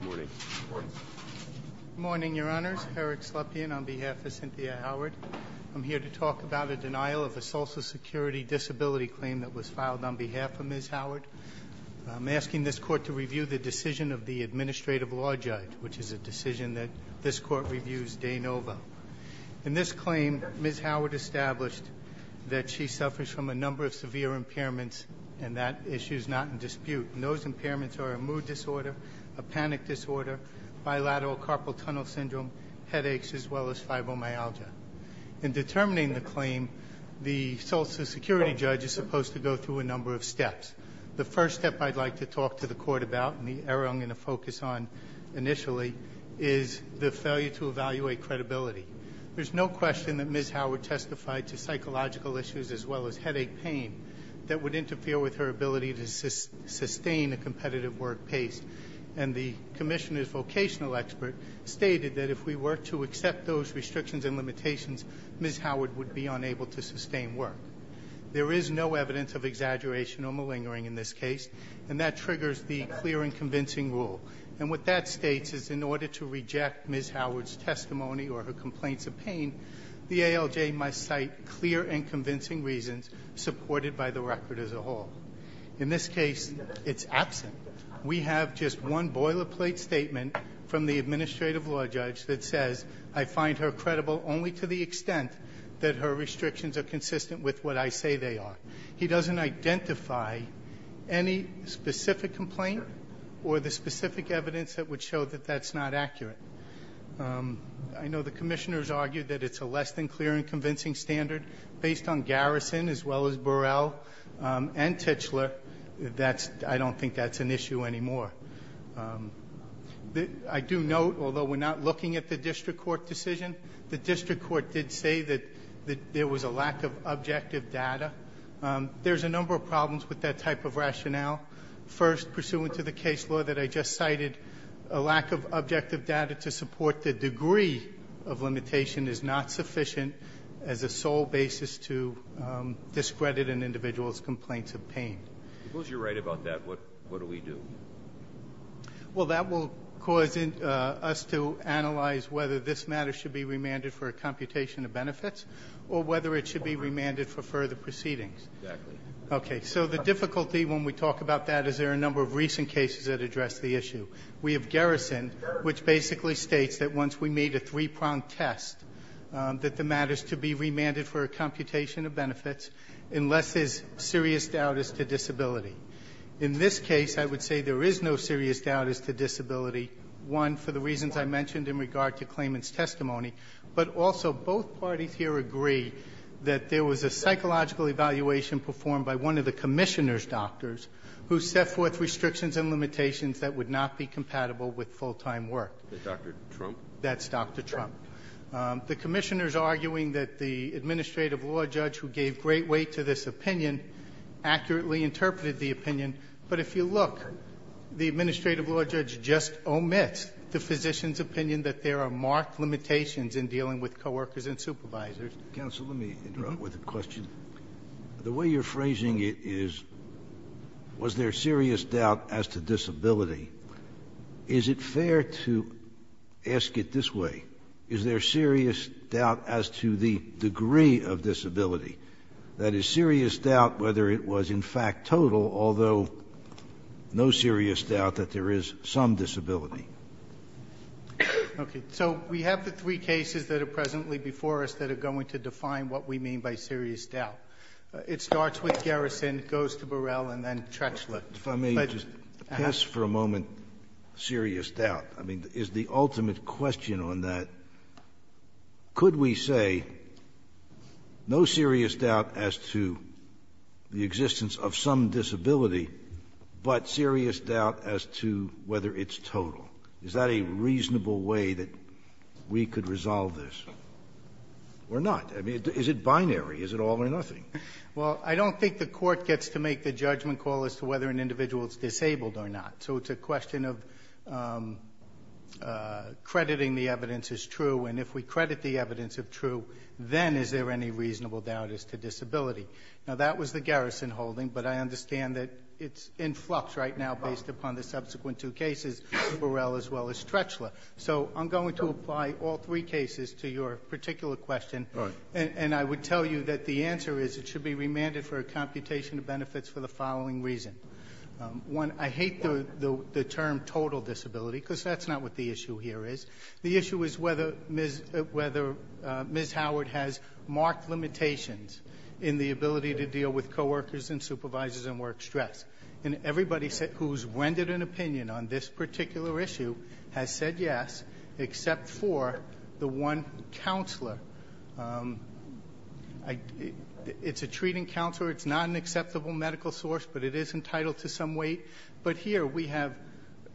Good morning. Good morning. Good morning, Your Honors. Eric Slepian on behalf of Cynthia Howard. I'm here to talk about a denial of a Social Security disability claim that was filed on behalf of Ms. Howard. I'm asking this Court to review the decision of the Administrative Law Judge, which is a decision that this Court reviews de novo. In this claim, Ms. Howard established that she suffers from a number of severe impairments, and that issue is not in dispute. And those impairments are a mood disorder, a panic disorder, bilateral carpal tunnel syndrome, headaches, as well as fibromyalgia. In determining the claim, the Social Security judge is supposed to go through a number of steps. The first step I'd like to talk to the Court about, and the area I'm going to focus on initially, is the failure to evaluate credibility. There's no question that Ms. Howard testified to psychological issues as well as headache pain that would interfere with her ability to sustain a competitive work pace. And the commissioner's vocational expert stated that if we were to accept those restrictions and limitations, Ms. Howard would be unable to sustain work. There is no evidence of exaggeration or malingering in this case, and that triggers the clear and convincing rule. And what that states is in order to reject Ms. Howard's testimony or her complaints of pain, the ALJ must cite clear and convincing reasons supported by the record as a whole. In this case, it's absent. We have just one boilerplate statement from the administrative law judge that says, I find her credible only to the extent that her restrictions are consistent with what I say they are. He doesn't identify any specific complaint or the specific evidence that would show that that's not accurate. I know the commissioner's argued that it's a less than clear and convincing standard. Based on Garrison as well as Burrell and Tichler, I don't think that's an issue anymore. I do note, although we're not looking at the district court decision, the district court did say that there was a lack of objective data. There's a number of problems with that type of rationale. First, pursuant to the case law that I just cited, a lack of objective data to support the degree of limitation is not sufficient as a sole basis to discredit an individual's complaints of pain. Suppose you're right about that. What do we do? Well, that will cause us to analyze whether this matter should be remanded for a computation of benefits or whether it should be remanded for further proceedings. Exactly. Okay. So the difficulty when we talk about that is there are a number of recent cases that address the issue. We have Garrison, which basically states that once we made a three-pronged test, that the matter is to be remanded for a computation of benefits unless there's serious doubt as to disability. In this case, I would say there is no serious doubt as to disability, one, for the reasons I mentioned in regard to claimant's testimony, but also both parties here agree that there was a psychological evaluation performed by one of the Commissioner's doctors who set forth restrictions and limitations that would not be compatible with full-time work. Dr. Trump? That's Dr. Trump. The Commissioner's arguing that the administrative law judge who gave great weight to this opinion accurately interpreted the opinion. But if you look, the administrative law judge just omits the physician's opinion that there are marked limitations in dealing with coworkers and supervisors. Counsel, let me interrupt with a question. The way you're phrasing it is, was there serious doubt as to disability. Is it fair to ask it this way? Is there serious doubt as to the degree of disability? That is, serious doubt whether it was in fact total, although no serious doubt that there is some disability. Okay. So we have the three cases that are presently before us that are going to define what we mean by serious doubt. It starts with Garrison, goes to Burrell, and then Trechla. If I may just pass for a moment serious doubt. I mean, is the ultimate question on that, could we say no serious doubt as to the reasonable way that we could resolve this? We're not. I mean, is it binary? Is it all or nothing? Well, I don't think the Court gets to make the judgment call as to whether an individual is disabled or not. So it's a question of crediting the evidence as true. And if we credit the evidence as true, then is there any reasonable doubt as to disability? Now, that was the Garrison holding, but I understand that it's in flux right now based upon the subsequent two cases, Burrell as well as Trechla. So I'm going to apply all three cases to your particular question. All right. And I would tell you that the answer is it should be remanded for a computation of benefits for the following reason. One, I hate the term total disability because that's not what the issue here is. The issue is whether Ms. Howard has marked limitations in the ability to deal with coworkers and supervisors and work stress. And everybody who's rendered an opinion on this particular issue has said yes, except for the one counselor. It's a treating counselor. It's not an acceptable medical source, but it is entitled to some weight. But here we have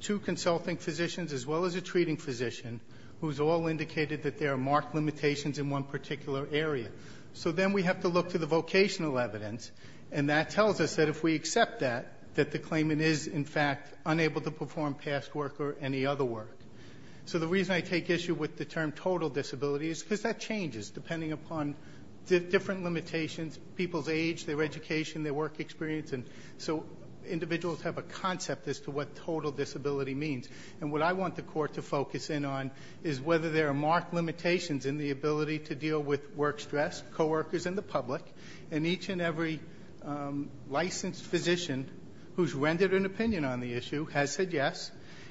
two consulting physicians as well as a treating physician who has all indicated that there are marked limitations in one particular area. So then we have to look to the vocational evidence, and that tells us that if we accept that, that the claimant is, in fact, unable to perform past work or any other work. So the reason I take issue with the term total disability is because that changes depending upon different limitations, people's age, their education, their work experience. And so individuals have a concept as to what total disability means. And what I want the Court to focus in on is whether there are marked limitations in the ability to deal with work stress, coworkers, and the public. And each and every licensed physician who's rendered an opinion on the issue has said yes,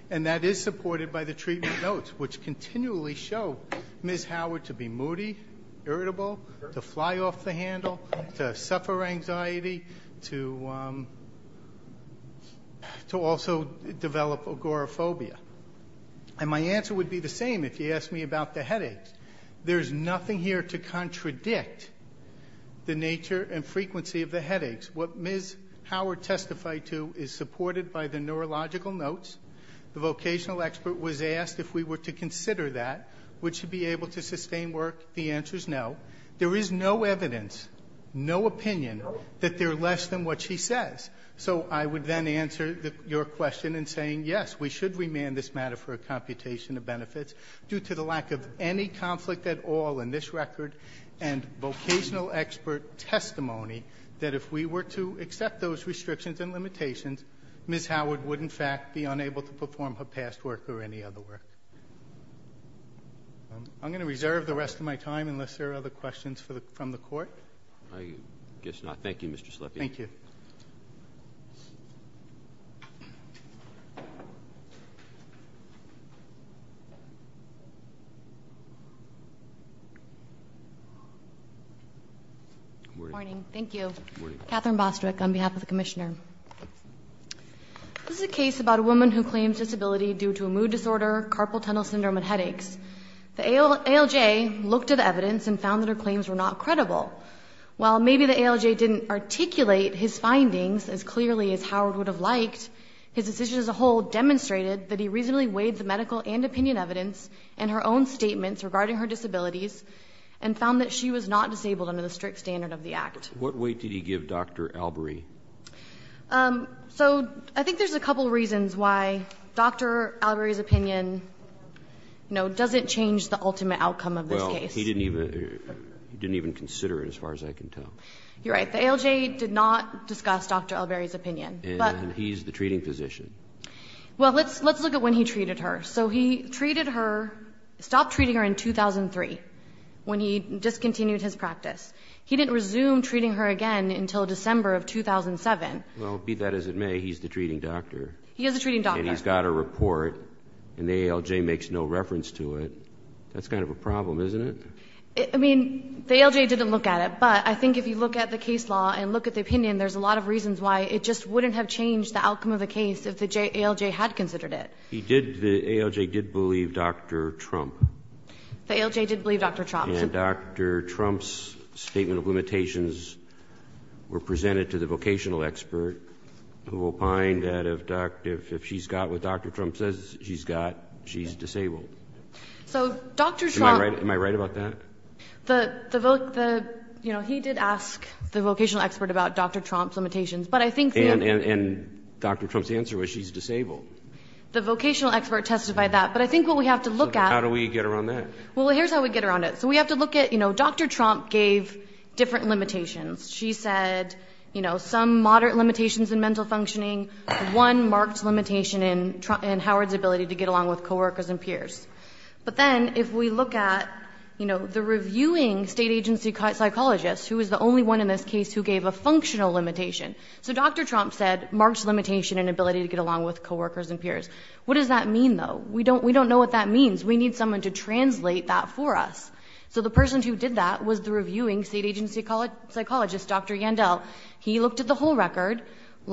and that is supported by the treatment notes, which continually show Ms. Howard to be moody, irritable, to fly off the handle, to suffer anxiety, to also develop agoraphobia. And my answer would be the same if you asked me about the headaches. There's nothing here to contradict the nature and frequency of the headaches. What Ms. Howard testified to is supported by the neurological notes. The vocational expert was asked if we were to consider that. Would she be able to sustain work? The answer is no. There is no evidence, no opinion that they're less than what she says. So I would then answer your question in saying yes, we should remand this matter for a computation of benefits due to the lack of any conflict at all in this record and vocational expert testimony that if we were to accept those restrictions and limitations, Ms. Howard would, in fact, be unable to perform her past work or any other work. I'm going to reserve the rest of my time unless there are other questions from the Court. Roberts. I guess not. Thank you, Mr. Sleppy. Thank you. Good morning. Thank you. Katherine Bostrick on behalf of the Commissioner. This is a case about a woman who claims disability due to a mood disorder, carpal tunnel syndrome, and headaches. The ALJ looked at evidence and found that her claims were not credible. While maybe the ALJ didn't articulate his findings as clearly as Howard would have liked, his decision as a whole demonstrated that he reasonably weighed the medical and opinion evidence in her own statements regarding her disabilities and found that she was not disabled under the strict standard of the Act. What weight did he give Dr. Albury? So I think there's a couple reasons why Dr. Albury's opinion, you know, doesn't change the ultimate outcome of this case. He didn't even consider it as far as I can tell. You're right. The ALJ did not discuss Dr. Albury's opinion. And he's the treating physician. Well, let's look at when he treated her. So he treated her, stopped treating her in 2003 when he discontinued his practice. He didn't resume treating her again until December of 2007. Well, be that as it may, he's the treating doctor. He is the treating doctor. And he's got a report and the ALJ makes no reference to it. That's kind of a problem, isn't it? I mean, the ALJ didn't look at it, but I think if you look at the case law and look at the opinion, there's a lot of reasons why it just wouldn't have changed the outcome of the case if the ALJ had considered it. He did, the ALJ did believe Dr. Trump. The ALJ did believe Dr. Trump. And Dr. Trump's statement of limitations were presented to the vocational expert, who opined that if she's got what Dr. Trump says she's got, she's disabled. So Dr. Trump Am I right about that? The, you know, he did ask the vocational expert about Dr. Trump's limitations. But I think And Dr. Trump's answer was she's disabled. The vocational expert testified that. But I think what we have to look at So how do we get around that? Well, here's how we get around it. So we have to look at, you know, Dr. Trump gave different limitations. She said, you know, some moderate limitations in mental functioning, one marked limitation in Howard's ability to get along with coworkers and peers. But then if we look at, you know, the reviewing state agency psychologist, who is the only one in this case who gave a functional limitation. So Dr. Trump said, marks limitation and ability to get along with coworkers and peers. What does that mean, though? We don't, we don't know what that means. We need someone to translate that for us. So the person who did that was the reviewing state agency psychologist, Dr. Yandel. He looked at the whole record.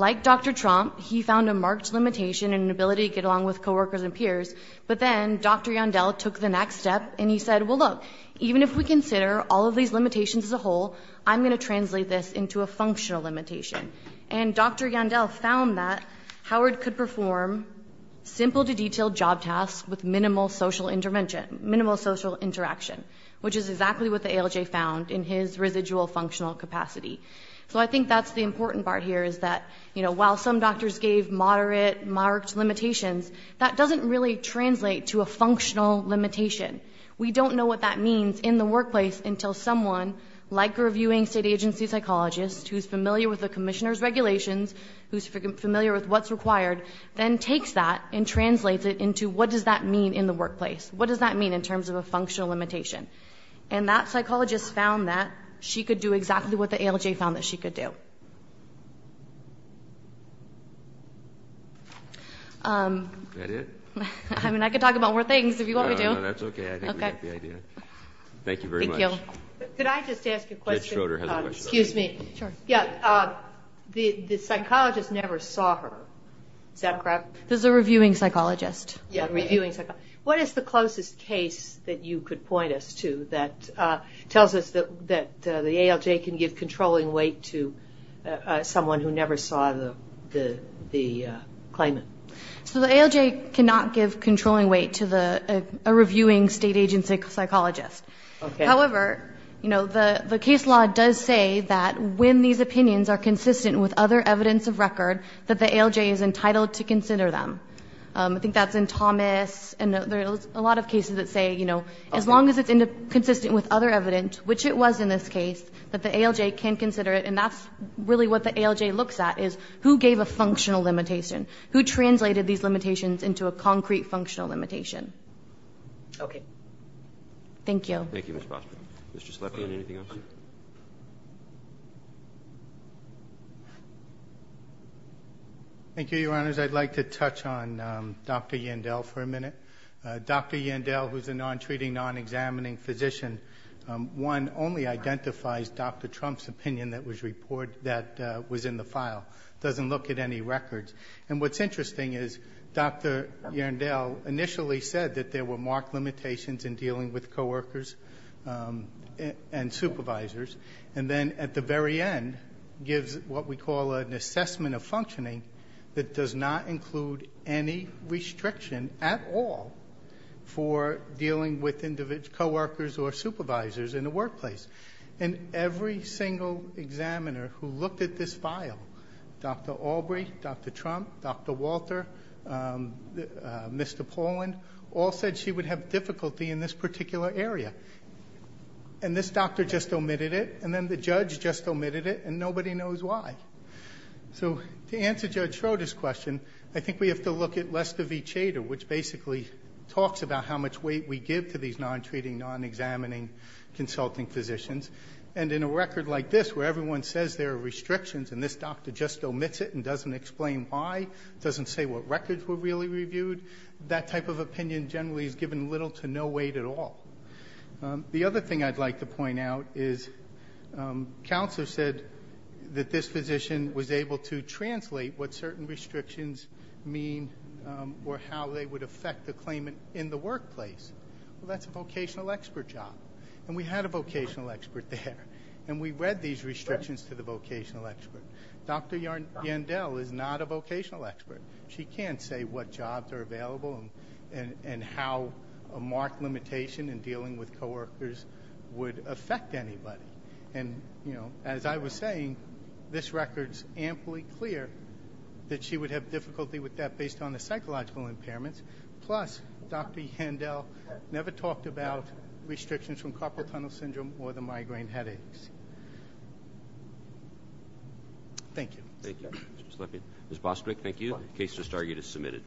Like Dr. Trump, he found a marked limitation and ability to get along with coworkers and peers. But then Dr. Yandel took the next step and he said, well, look, even if we consider all of these limitations as a whole, I'm going to translate this into a functional limitation. And Dr. Yandel found that Howard could perform simple to detailed job tasks with minimal social intervention, minimal social interaction, which is exactly what the ALJ found in his residual functional capacity. So I think that's the important part here, is that, you know, while some doctors gave moderate marked limitations, that doesn't really translate to a functional limitation. We don't know what that means in the workplace until someone, like a reviewing state agency psychologist who's familiar with the commissioner's regulations, who's familiar with what's required, then takes that and translates it into what does that mean in the workplace? What does that mean in terms of a functional limitation? And that psychologist found that she could do exactly what the ALJ found that she could do. Is that it? I mean, I could talk about more things if you want me to. No, no, that's okay. I think we got the idea. Thank you very much. Thank you. Could I just ask a question? Judge Schroeder has a question. Excuse me. Sure. Yeah, the psychologist never saw her. Is that correct? This is a reviewing psychologist. Yeah, a reviewing psychologist. What is the closest case that you could point us to that tells us that the ALJ can give controlling weight to someone who never saw the claimant? So the ALJ cannot give controlling weight to a reviewing state agency psychologist. However, the case law does say that when these opinions are consistent with other evidence of record, that the ALJ is entitled to consider them. I think that's in Thomas. And there are a lot of cases that say, you know, as long as it's consistent with other evidence, which it was in this case, that the ALJ can consider it. And that's really what the ALJ looks at is who gave a functional limitation, who translated these limitations into a concrete functional limitation. Okay. Thank you. Thank you, Ms. Foster. Mr. Slepian, anything else? Thank you, Your Honors. I'd like to touch on Dr. Yandell for a minute. Dr. Yandell, who's a non-treating, non-examining physician, one only identifies Dr. Trump's opinion that was in the file, doesn't look at any records. And what's interesting is Dr. Yandell initially said that there were marked limitations in dealing with coworkers and supervisors, and then at the very end gives what we call an assessment of functioning that does not include any restriction at all for dealing with coworkers or supervisors in the workplace. And every single examiner who looked at this file, Dr. Albrey, Dr. Trump, Dr. Walter, Mr. Paulin, all said she would have difficulty in this particular area. And this doctor just omitted it, and then the judge just omitted it, and nobody knows why. So to answer Judge Schroeder's question, I think we have to look at Lester v. Chater, which basically talks about how much weight we give to these non-treating, non-examining consulting physicians. And in a record like this where everyone says there are restrictions and this doctor just omits it and doesn't explain why, doesn't say what records were really reviewed, that type of opinion generally is given little to no weight at all. The other thing I'd like to point out is Counselor said that this physician was able to translate what certain restrictions mean or how they would affect the claimant in the workplace. Well, that's a vocational expert job, and we had a vocational expert there, and we read these restrictions to the vocational expert. Dr. Yandel is not a vocational expert. She can't say what jobs are available and how a marked limitation in dealing with coworkers would affect anybody. And, you know, as I was saying, this record's amply clear that she would have difficulty with that based on the psychological impairments, plus Dr. Yandel never talked about restrictions from carpal tunnel syndrome or the migraine headaches. Thank you. Thank you. Ms. Bostwick, thank you. The case is submitted.